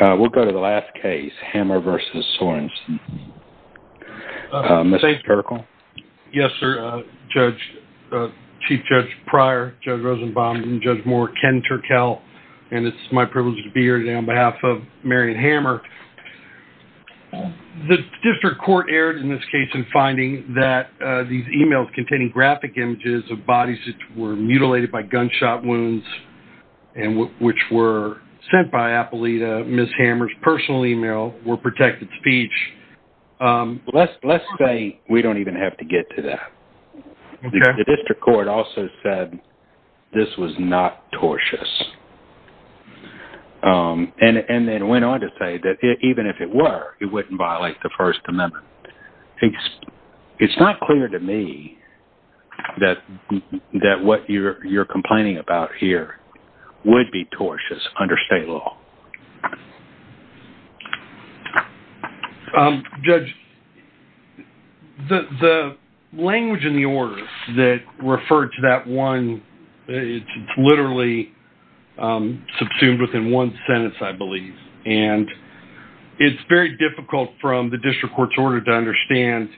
We'll go to the last case, Hammer v. Sorensen. Mr. Turkel? Yes, sir. Chief Judge Pryor, Judge Rosenbaum, and Judge Moore, Ken Turkel, and it's my privilege to be here today on behalf of Marion Hammer. The district court erred in this case in finding that these emails containing graphic images of Ms. Hammer's personal email were protected speech. Let's say we don't even have to get to that. The district court also said this was not tortious. And then went on to say that even if it were, it wouldn't violate the First Amendment. It's not clear to me that what you're complaining about here would be tortious under state law. Um, Judge, the language in the order that referred to that one, it's literally subsumed within one sentence, I believe. And it's very difficult from the district court's order to understand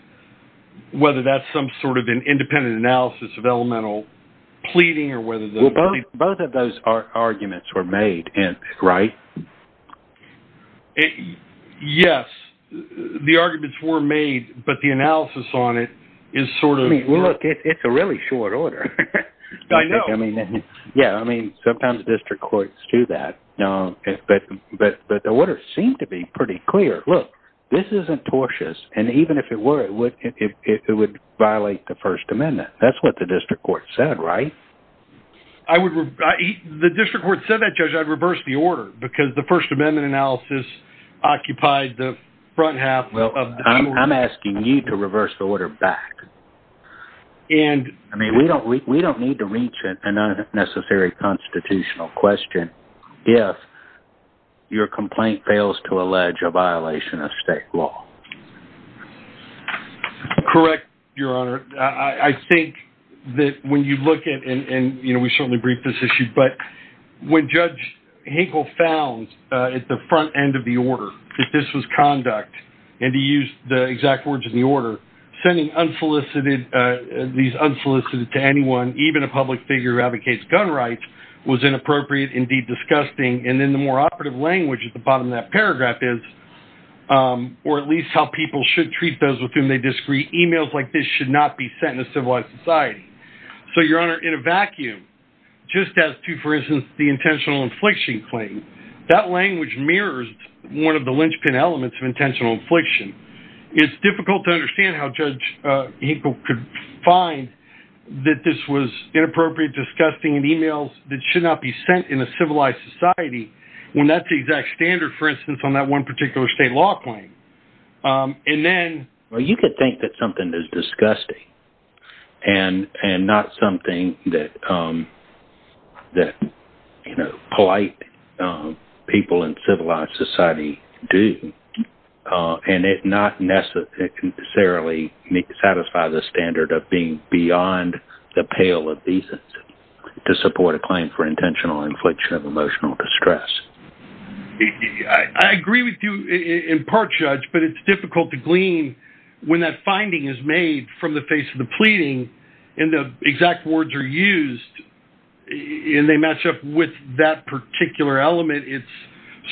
whether that's some sort of an independent analysis of elemental pleading or whether the both of those are arguments were made. And right. Yes, the arguments were made, but the analysis on it is sort of look, it's a really short order. I know. I mean, yeah, I mean, sometimes district courts do that. No, but but the order seemed to be pretty clear. Look, this isn't tortious. And even if it were, it would if it would court said, right. I would. The district court said that, Judge, I'd reverse the order because the First Amendment analysis occupied the front half. Well, I'm asking you to reverse the order back. And I mean, we don't we don't need to reach an unnecessary constitutional question. Yes. Your complaint fails to allege a violation of state law. Correct. Your Honor, I think that when you look at and we certainly briefed this issue, but when Judge Hinkle found at the front end of the order that this was conduct and to use the exact words of the order, sending unsolicited these unsolicited to anyone, even a public figure who advocates gun rights was inappropriate, indeed, disgusting. And then the more operative language at the bottom of that paragraph is or at least how people should treat those with whom they disagree. Emails like this should not be sent in a civilized society. So, Your Honor, in a vacuum, just as to, for instance, the intentional infliction claim, that language mirrors one of the linchpin elements of intentional infliction. It's difficult to understand how Judge Hinkle could find that this was inappropriate, disgusting and emails that should not be sent in a civilized society when that's the exact standard, for instance, on that one particular state law claim. And then you could think that something is disgusting and and not something that that, you know, polite people in civilized society do. And it's not necessarily necessarily satisfy the standard of being beyond the pale of decency to support a claim for intentional infliction of emotional distress. I agree with you in part, Judge, but it's difficult to glean when that finding is made from the face of the pleading and the exact words are used and they match up with that particular element. It's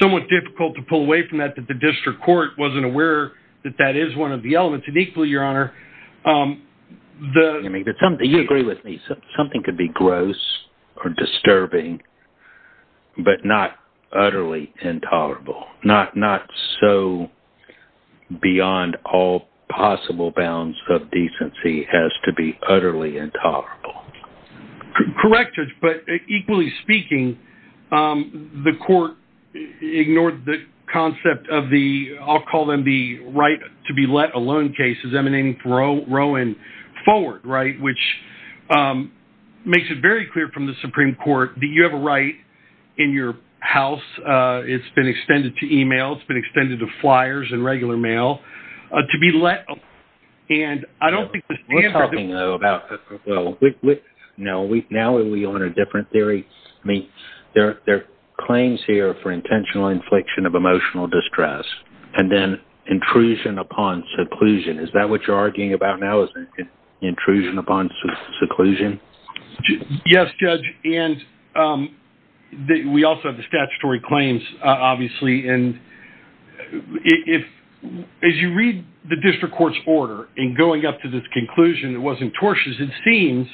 somewhat difficult to pull away from that, that the district court wasn't aware that that is one of the elements. And equally, Your Honor, I mean, you agree with me, something could be gross or disturbing, but not utterly intolerable, not not so beyond all possible bounds of decency has to be utterly intolerable. Correct, Judge, but equally speaking, the court ignored the concept of the I'll call them the right to be let alone cases emanating from Rowan forward. Right. Which makes it very clear from the Supreme Court that you have a right in your house. It's been extended to email. It's been extended to flyers and regular mail to be let. And I don't think we're talking about. No, we now we own a different theory. I mean, there are claims here for intentional infliction of emotional distress and then intrusion upon seclusion. Is that what you're arguing about now is intrusion upon seclusion? Yes, Judge. And we also have the statutory claims, obviously. And if as you read the district court's order and going up to this conclusion, it wasn't tortious. It seems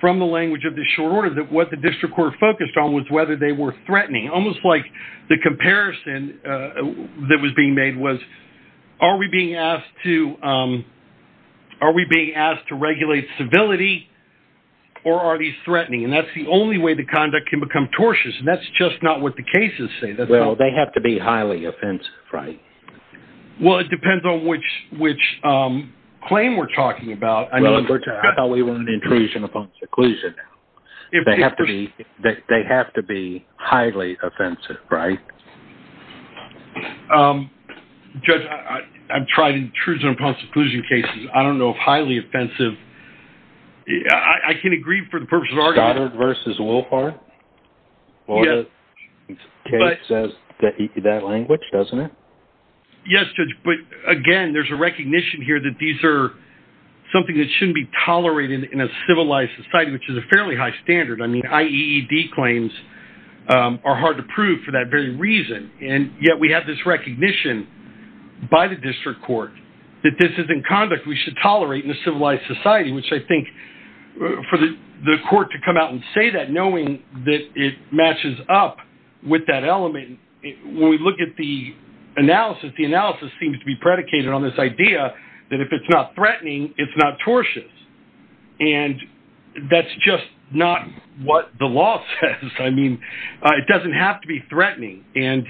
from the language of the short order that what the district court focused on was whether they were threatening, almost like the comparison that was being made was, are we being asked to are we being asked to regulate civility or are these threatening? And that's the only way the conduct can become tortious. And that's just not what the cases say. Well, they have to be highly offensive, right? Well, it depends on which which claim we're talking about. I know. I thought we intrusion upon seclusion. They have to be that they have to be highly offensive, right? Judge, I've tried intrusion upon seclusion cases. I don't know if highly offensive. I can agree for the purposes of argument. Goddard versus Wolfhard. Case says that that language, doesn't it? Yes, Judge. But again, there's a recognition here that these are something that shouldn't be tolerated in a civilized society, which is a fairly high standard. I mean, IED claims are hard to prove for that very reason. And yet we have this recognition by the district court that this is in conduct we should tolerate in a civilized society, which I think for the court to come out and say that, knowing that it matches up with that that if it's not threatening, it's not tortious. And that's just not what the law says. I mean, it doesn't have to be threatening. And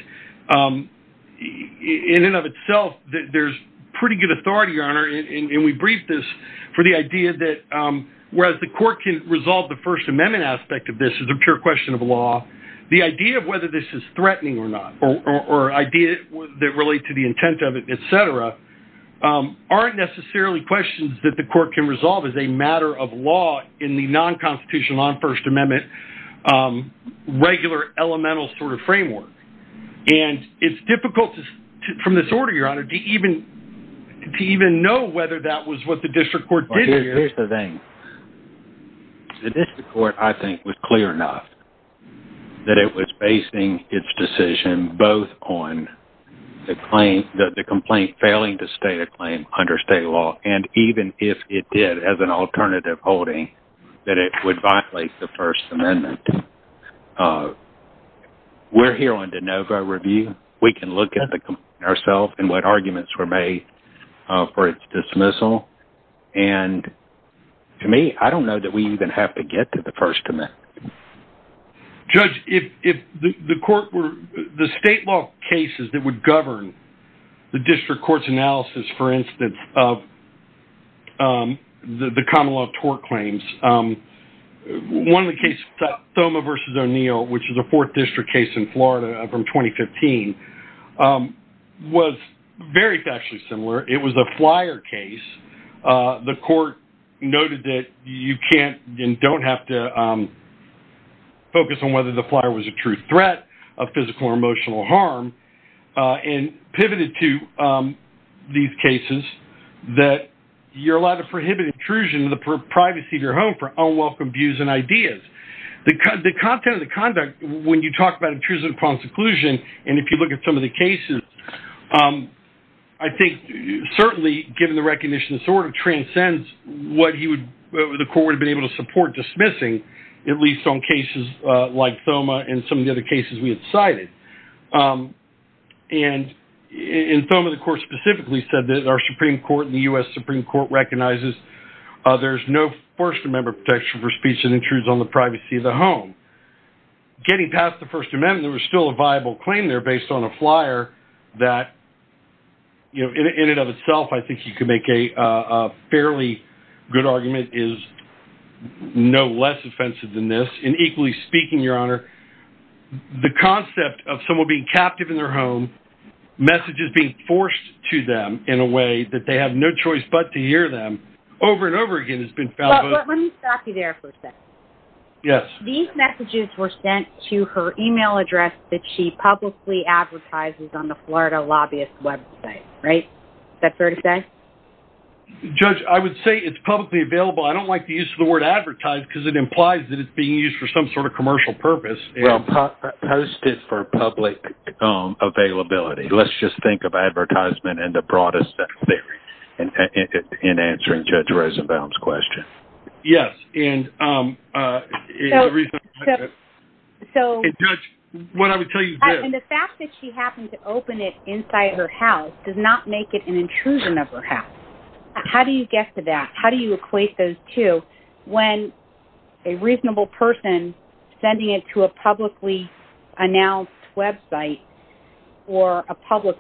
in and of itself, there's pretty good authority, Your Honor. And we briefed this for the idea that whereas the court can resolve the First Amendment aspect of this is a pure question of law. The idea of whether this is threatening or idea that relate to the intent of it, et cetera, aren't necessarily questions that the court can resolve as a matter of law in the non-constitutional, non-First Amendment, regular elemental sort of framework. And it's difficult from this order, Your Honor, to even know whether that was what the district court did here. Here's the thing. The district court, I think, was clear enough that it was basing its decision both on the complaint failing to stay a claim under state law. And even if it did, as an alternative holding, that it would violate the First Amendment. We're here on de novo review. We can look at the complaint ourselves and what arguments were made for its dismissal. And to me, I don't know that we even have to get to the First Amendment. Judge, the state law cases that would govern the district court's analysis, for instance, of the common law tort claims, one of the cases, Thoma v. O'Neill, which is a fourth district case in Florida from 2015, was very factually similar. It was a flyer case. The court noted that you can't and don't have to focus on whether the flyer was a true threat of physical or emotional harm and pivoted to these cases that you're allowed to prohibit intrusion of the privacy of your home for unwelcome views and ideas. The content of the conduct, when you talk about intrusion upon seclusion, and if you look at some of the cases, I think certainly, given the court would have been able to support dismissing, at least on cases like Thoma and some of the other cases we had cited. And in Thoma, the court specifically said that our Supreme Court and the U.S. Supreme Court recognizes there's no First Amendment protection for speech and intrusion on the privacy of the home. Getting past the First Amendment, there was still a viable claim there is no less offensive than this. And equally speaking, Your Honor, the concept of someone being captive in their home, messages being forced to them in a way that they have no choice but to hear them over and over again has been found. Let me stop you there for a second. Yes. These messages were sent to her email address that she publicly advertises on the Florida lobbyist website. Is that fair to say? Judge, I would say it's publicly available. I don't like the use of the word advertise because it implies that it's being used for some sort of commercial purpose. Post it for public availability. Let's just think of advertisement and the broadest theory in answering Judge Rosenbaum's question. Yes. And the fact that she happened to her house does not make it an intrusion of her house. How do you get to that? How do you equate those two when a reasonable person sending it to a publicly announced website or a public?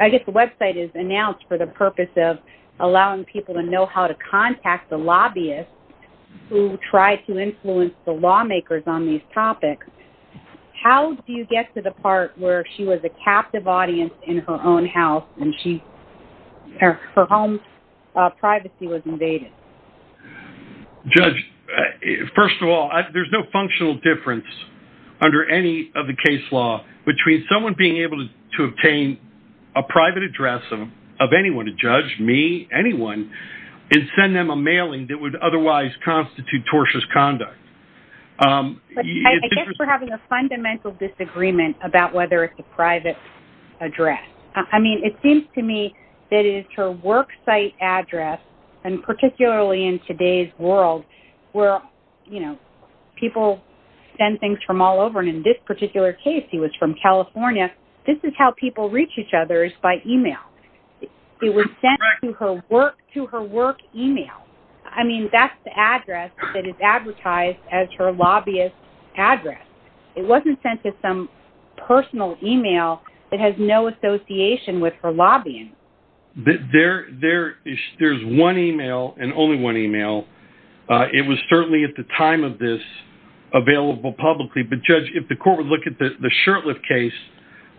I guess the website is announced for the purpose of allowing people to know how to contact the lobbyist who tried to influence the lawmakers on these topics. How do you get to the part where she was a captive audience in her own house and her home privacy was invaded? Judge, first of all, there's no functional difference under any of the case law between someone being able to obtain a private address of anyone, a judge, me, anyone, and send them a mailing that would otherwise constitute tortious conduct. Um, I guess we're having a fundamental disagreement about whether it's a private address. I mean, it seems to me that it's her worksite address and particularly in today's world where, you know, people send things from all over. And in this particular case, he was from California. This is how people reach each other is by email. It was sent to her work, to her work email. I mean, that's the address that is advertised as her lobbyist address. It wasn't sent to some personal email that has no association with her lobbying. There, there is, there's one email and only one email. Uh, it was certainly at the time of this available publicly, but judge, if the court would look at the, the shirt lift case,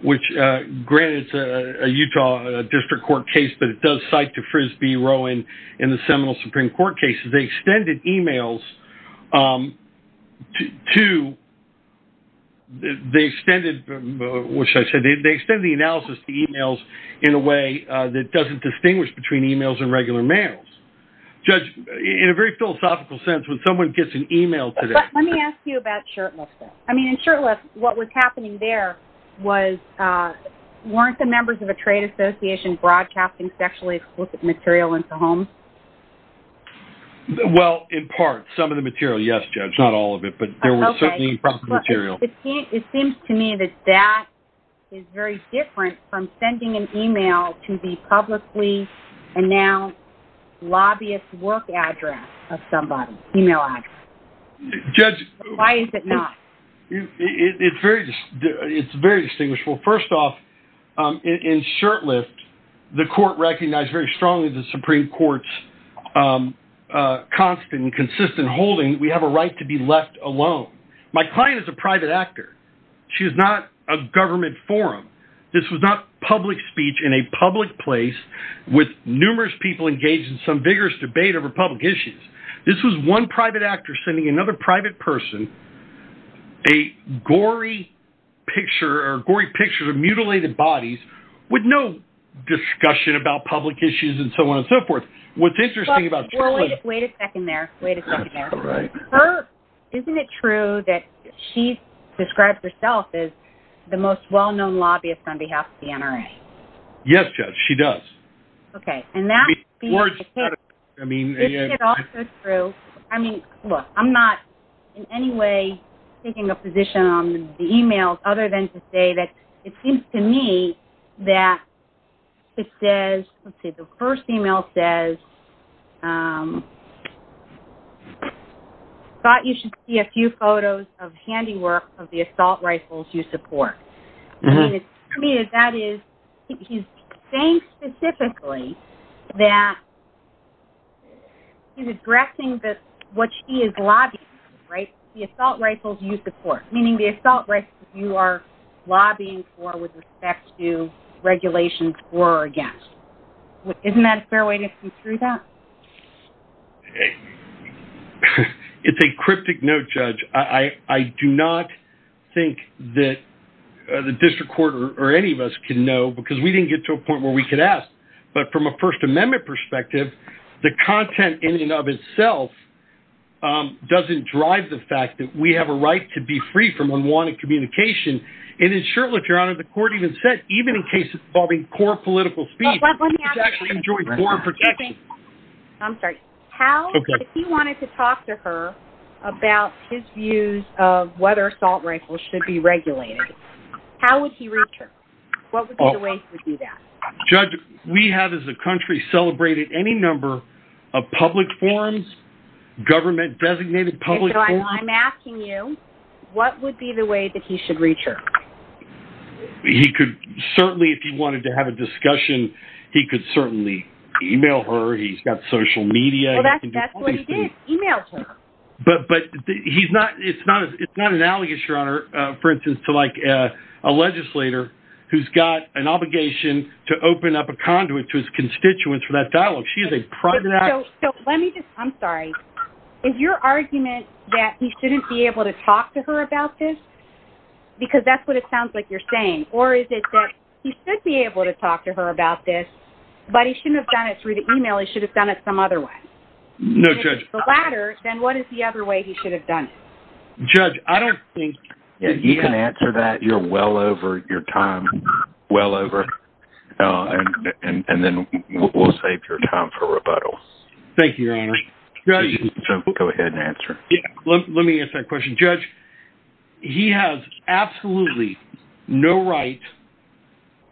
which, uh, granted it's a Utah district court case, but it does cite to Frisbee Rowan in the Seminole Supreme court cases, they extended emails, um, to, to, they extended, which I said, they extended the analysis to emails in a way that doesn't distinguish between emails and regular mails. Judge, in a very philosophical sense, when someone gets an email today, let me ask you about shirtless. I mean, in shirtless, what was happening there was, uh, weren't the members of a trade association broadcasting sexually explicit material into homes? Well, in part, some of the material, yes, judge, not all of it, but there was certainly material. It seems to me that that is very different from sending an email to the publicly and now lobbyist work address of somebody email ad. Judge, why is it not? It's very, it's very distinguishable. First off, um, in, in shirt lift, the court recognized very strongly the Supreme court's, um, uh, constant and consistent holding. We have a right to be left alone. My client is a private actor. She is not a government forum. This was not public speech in a public place with numerous people engaged in some vigorous debate over public issues. This was one actor sending another private person, a gory picture or gory pictures of mutilated bodies with no discussion about public issues and so on and so forth. What's interesting about isn't it true that she's described herself as the most well-known lobbyist on behalf of the NRA? Yes, judge. She does. Okay. And that's the words. I mean, I mean, look, I'm not in any way taking a position on the emails other than to say that it seems to me that it says, let's say the first email says, um, thought you should see a few photos of handiwork of the assault rifles you support. I mean, that is, he's saying specifically that he's addressing that what she is lobbying, right? The assault rifles you support, meaning the assault rifles you are lobbying for with respect to regulations for or against. Isn't that a fair way to see through that? Okay. It's a cryptic note, judge. I do not think that the district court or any of us can know because we didn't get to a point where we could ask, but from a first amendment perspective, the content in and of itself, um, doesn't drive the fact that we have a right to be free from unwanted communication. And in short, if you're on it, the court even said, even in cases involving core political speech, I'm sorry. How, if he wanted to talk to her about his views of whether assault rifles should be regulated, how would he reach her? What would be the way he would do that? Judge, we have, as a country celebrated any number of public forums, government designated public. I'm asking you, what would be the way that he should reach her? He could certainly, if he wanted to have a discussion, he could certainly email her. He's got social media, but he's not, it's not, it's not an allegation on her, uh, for instance, to like, a legislator who's got an obligation to open up a conduit to his constituents for that dialogue. She is a private. So let me just, I'm sorry, is your argument that he shouldn't be able to talk to her about this? Because that's what it sounds like you're saying, or is it that he should be able to talk to her about this, but he shouldn't have done it through the email. He should have done it some other way. No judge. Then what is the other way he should have done it? Judge, I don't think you can answer that. You're well over your time, well over, uh, and, and, and then we'll save your time for rebuttal. Thank you, Your Honor. Go ahead and answer. Yeah. Let me ask that question. Judge, he has absolutely no right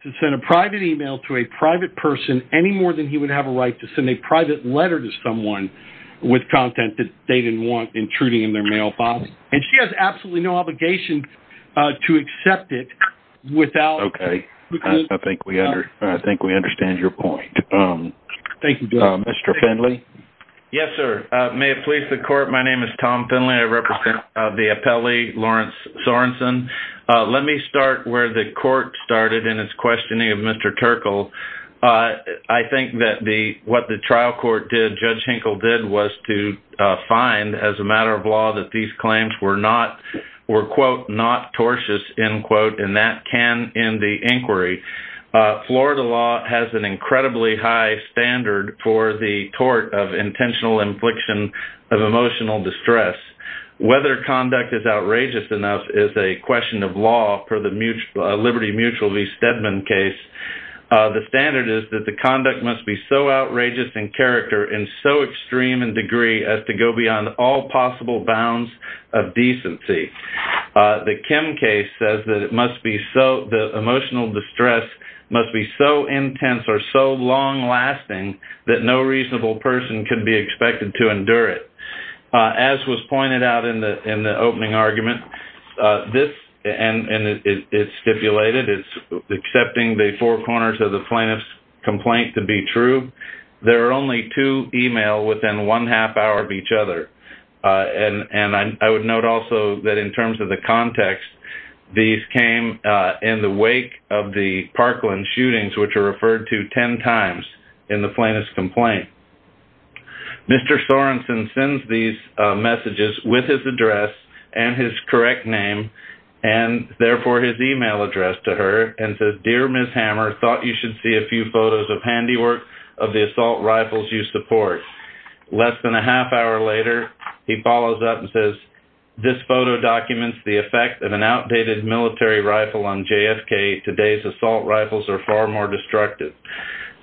to send a private email to a private person any more than he would have a right to send a private letter to someone with content that they didn't want intruding in their mailbox. And she has absolutely no obligation to accept it without. Okay. I think we under, I think we understand your point. Um, thank you, Mr. Finley. Yes, sir. Uh, may it please the court. My name is Tom Finley. I represent, uh, the appellee Lawrence Sorenson. Uh, let me start where the court started in his questioning of Mr. Turkle. Uh, I think that the, what the trial court did, Judge Hinkle did was to, uh, find as a matter of law that these claims were not, were quote, not tortious end in the inquiry. Uh, Florida law has an incredibly high standard for the tort of intentional infliction of emotional distress. Whether conduct is outrageous enough is a question of law per the Liberty Mutual v. Stedman case. Uh, the standard is that the conduct must be so outrageous in character and so extreme in degree as to go beyond all possible bounds of decency. Uh, the Kim case says that it must be so, the emotional distress must be so intense or so long lasting that no reasonable person can be expected to endure it. Uh, as was pointed out in the, in the opening argument, uh, this, and, and it's stipulated, it's accepting the four corners of the plaintiff's complaint to be true. There are only two email within one half hour of each other. Uh, and, and I, I would note also that in terms of the context, these came, uh, in the wake of the Parkland shootings, which are referred to 10 times in the plaintiff's complaint. Mr. Sorenson sends these, uh, messages with his address and his correct name and therefore his email address to her and says, dear Ms. Hammer thought you should see a few photos of handiwork of the assault rifles you support. Less than a half hour later, he follows up and says, this photo documents the effect of an outdated military rifle on JFK. Today's assault rifles are far more destructive.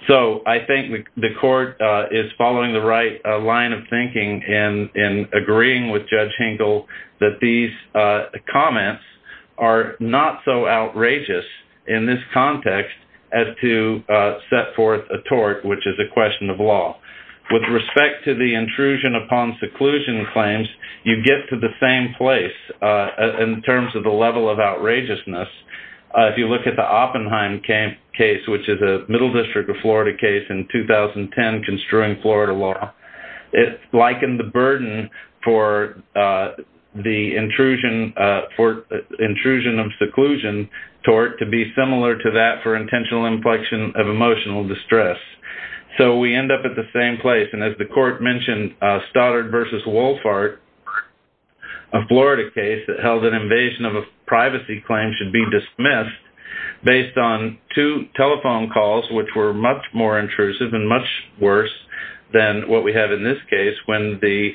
So I think the court, uh, is following the right line of thinking in, in agreeing with judge Hinkle that these, uh, comments are not so outrageous in this context as to, uh, set forth a tort, which is a question of law. With respect to the intrusion upon seclusion claims, you get to the same place, uh, in terms of the level of outrageousness. If you look at the Oppenheim case, which is a middle district of Florida case in 2010, construing Florida law, it likened the burden for, uh, the intrusion, uh, for intrusion of seclusion tort to be similar to that for intentional inflection of emotional distress. So we end up at the same place. And as the court mentioned, uh, Stoddard versus Wohlfahrt, a Florida case that held an invasion of a privacy claim should be dismissed based on two telephone calls, which were much more intrusive and much worse than what we have in this case when the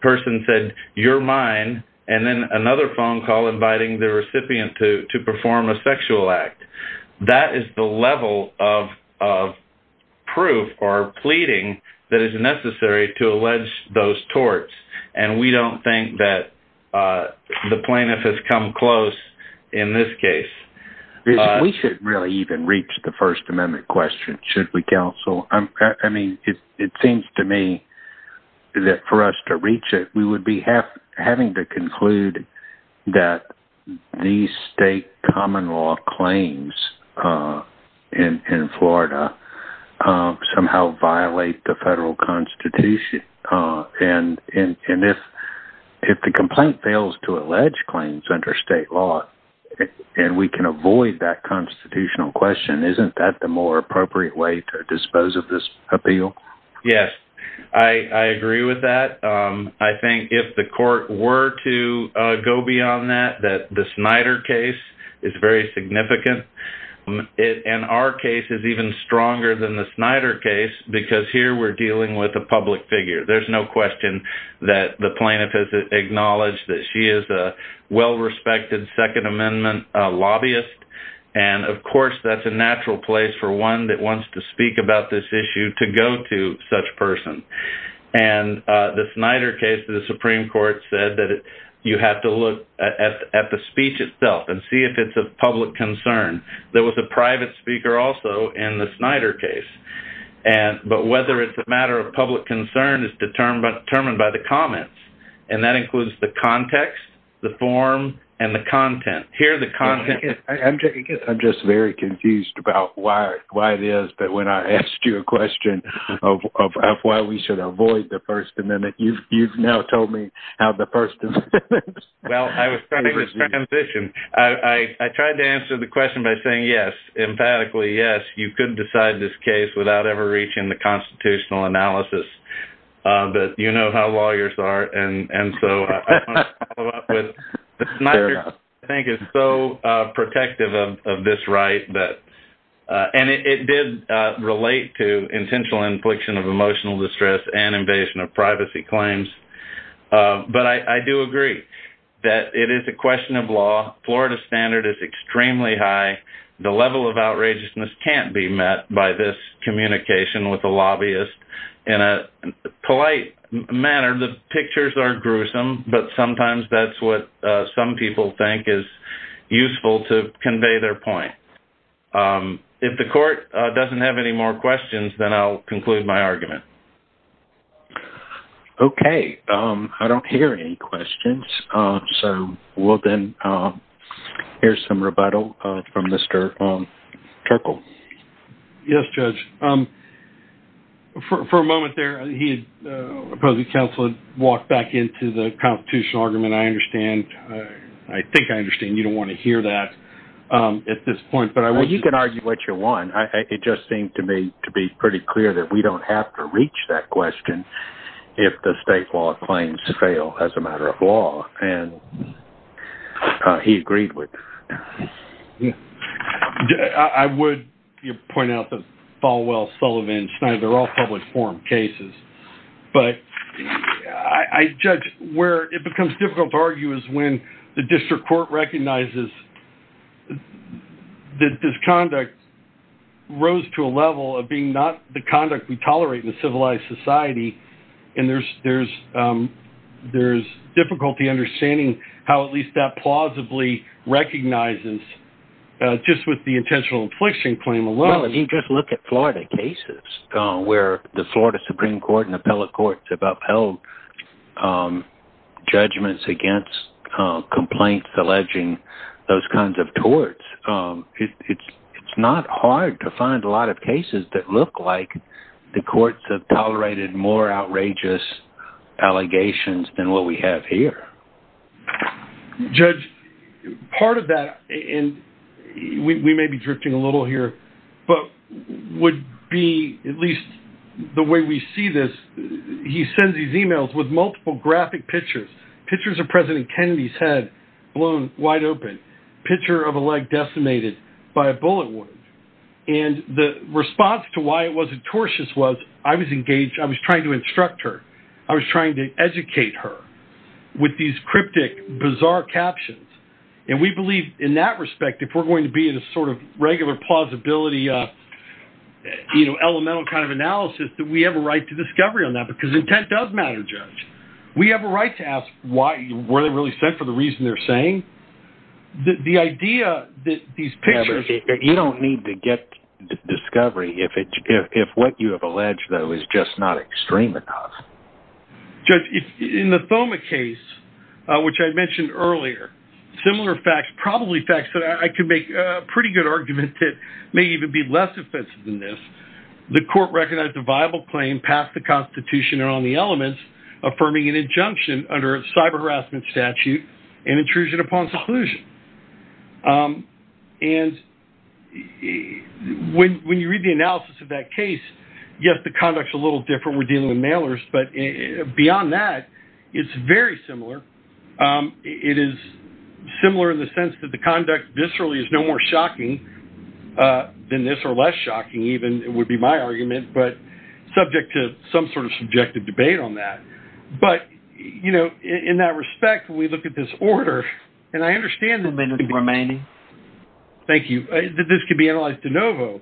person said, you're mine. And then another phone call inviting the recipient to, to perform a sexual act. That is the level of, of proof or pleading that is necessary to allege those torts. And we don't think that, uh, the plaintiff has come close in this case. We should really even reach the first amendment question. Should we counsel? I mean, it seems to me that for us to reach it, we would be half having to conclude that these state common law claims, uh, in, in Florida, um, somehow violate the federal constitution. Uh, and, and, and if, if the complaint fails to allege claims under state law and we can avoid that constitutional question, isn't that the more appropriate way to dispose of this appeal? Yes, I, I agree with that. Um, I think if the court were to, uh, go beyond that, that the Snyder case is very significant and our case is even stronger than the Snyder case, because here we're dealing with a public figure. There's no question that the plaintiff has acknowledged that she is a well-respected second amendment lobbyist. And of course, that's a natural place for one that wants to speak about this issue to go to such person. And, uh, the Snyder case to the Supreme Court said that you have to look at the speech itself and see if it's a public concern. There was a private speaker also in the Snyder case. And, but whether it's a matter of public concern is determined by the comments. And that includes the context, the form, and the content here, the content. I'm just very confused about why, why it is, but when I asked you a question of, of why we should avoid the first amendment, you've, you've now told me how the person. Well, I was trying to transition. I tried to answer the question by saying, yes, emphatically, yes, you could decide this case without ever reaching the constitutional analysis, uh, but you know how lawyers are. And, and so I think it's so, uh, protective of, of this right that, uh, and it did, uh, relate to intentional infliction of emotional distress and invasion of privacy claims. Uh, but I, I do agree that it is a question of law. Florida standard is extremely high. The level of outrageousness can't be met by this communication with the lobbyist in a polite manner. The pictures are gruesome, but sometimes that's what some people think is useful to convey their point. Um, if the court doesn't have any more questions, then I'll conclude my argument. Okay. Um, I don't hear any questions. Um, so we'll then, um, here's some rebuttal, uh, from Mr. Turkle. Yes, judge. Um, for, for a moment there, he had, uh, opposing counsel had walked back into the constitutional argument. I understand. I think I understand. You don't want to hear that. Um, at this point, but I, well, you can argue what you want. I, it just seemed to me to be pretty clear that we don't have to reach that question if the state law claims fail as a matter of law. And, uh, he agreed with. Yeah, I would point out that Falwell Sullivan Schneider, they're all public forum cases, but I judge where it becomes difficult to argue is when the district court recognizes that this conduct rose to a level of being not the conduct we tolerate in a civilized society. And there's, there's, um, there's difficulty understanding how at least that plausibly recognizes, uh, just with the intentional infliction claim alone. I mean, just look at Florida cases, uh, where the Florida Supreme court and appellate courts have complaints, alleging those kinds of torts. Um, it's, it's, it's not hard to find a lot of cases that look like the courts have tolerated more outrageous allegations than what we have here. Judge part of that. And we may be drifting a little here, but would be at least the way we see this. He sends these emails with multiple graphic pictures, pictures of president Kennedy's head blown wide open picture of a leg decimated by a bullet wound. And the response to why it wasn't tortious was I was engaged. I was trying to instruct her. I was trying to educate her with these cryptic, bizarre captions. And we believe in that respect, if we're going to be in a sort of regular plausibility, uh, you know, elemental kind of analysis that we have a right to discovery on that because intent does matter. Judge, we have a right to ask why were they really set for the reason they're saying that the idea that these pictures, you don't need to get discovery. If it, if, if what you have alleged though, is just not extreme enough, just in the Thoma case, uh, which I mentioned earlier, similar facts, probably facts that I can make a pretty good argument to may even be less offensive than this. The court recognized a viable claim past the constitution and on the elements affirming an injunction under a cyber harassment statute and intrusion upon seclusion. Um, and when, when you read the analysis of that case, yes, the conduct's a little different. We're dealing with mailers, but beyond that, it's very similar. Um, it is similar in the sense that the conduct viscerally is no more shocking, uh, than this or less shocking, even it would be my argument, but subject to some sort of subjective debate on that. But, you know, in that respect, we look at this order and I understand the remaining, thank you. This could be analyzed de novo,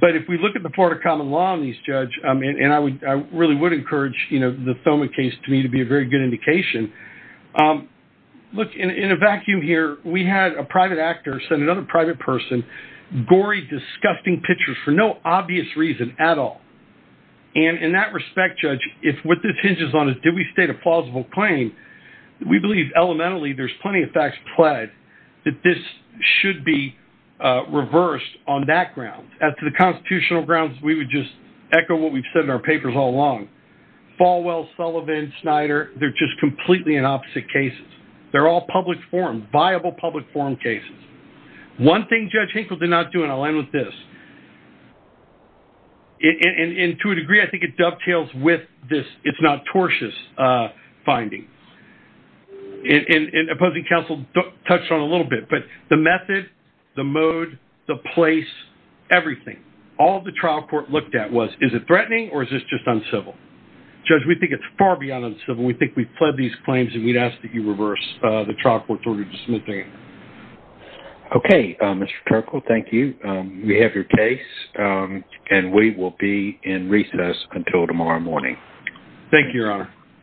but if we look at the Thoma case to me to be a very good indication, um, look in a vacuum here, we had a private actor sent another private person, gory, disgusting pictures for no obvious reason at all. And in that respect, judge, if what this hinges on is, did we state a plausible claim? We believe elementally there's plenty of facts pled that this should be, uh, reversed on that ground. As to the constitutional grounds, we would just echo what we've said in our papers all along, Falwell, Sullivan, Snyder. They're just completely in opposite cases. They're all public forum, viable public forum cases. One thing judge Hinkle did not do. And I'll end with this in, in, in, in to a degree, I think it dovetails with this. It's not tortious, uh, finding in, in, in opposing council touched on a little bit, but the method, the mode, the place, everything, all of the trial court looked at was, is it threatening or is this just uncivil judge? We think it's far beyond uncivil. We think we've pled these claims and we'd ask that you reverse the trial court's order to smithing. Okay. Um, Mr. Kirkle, thank you. Um, we have your case, um, and we will be in recess until tomorrow morning. Thank you, your honor.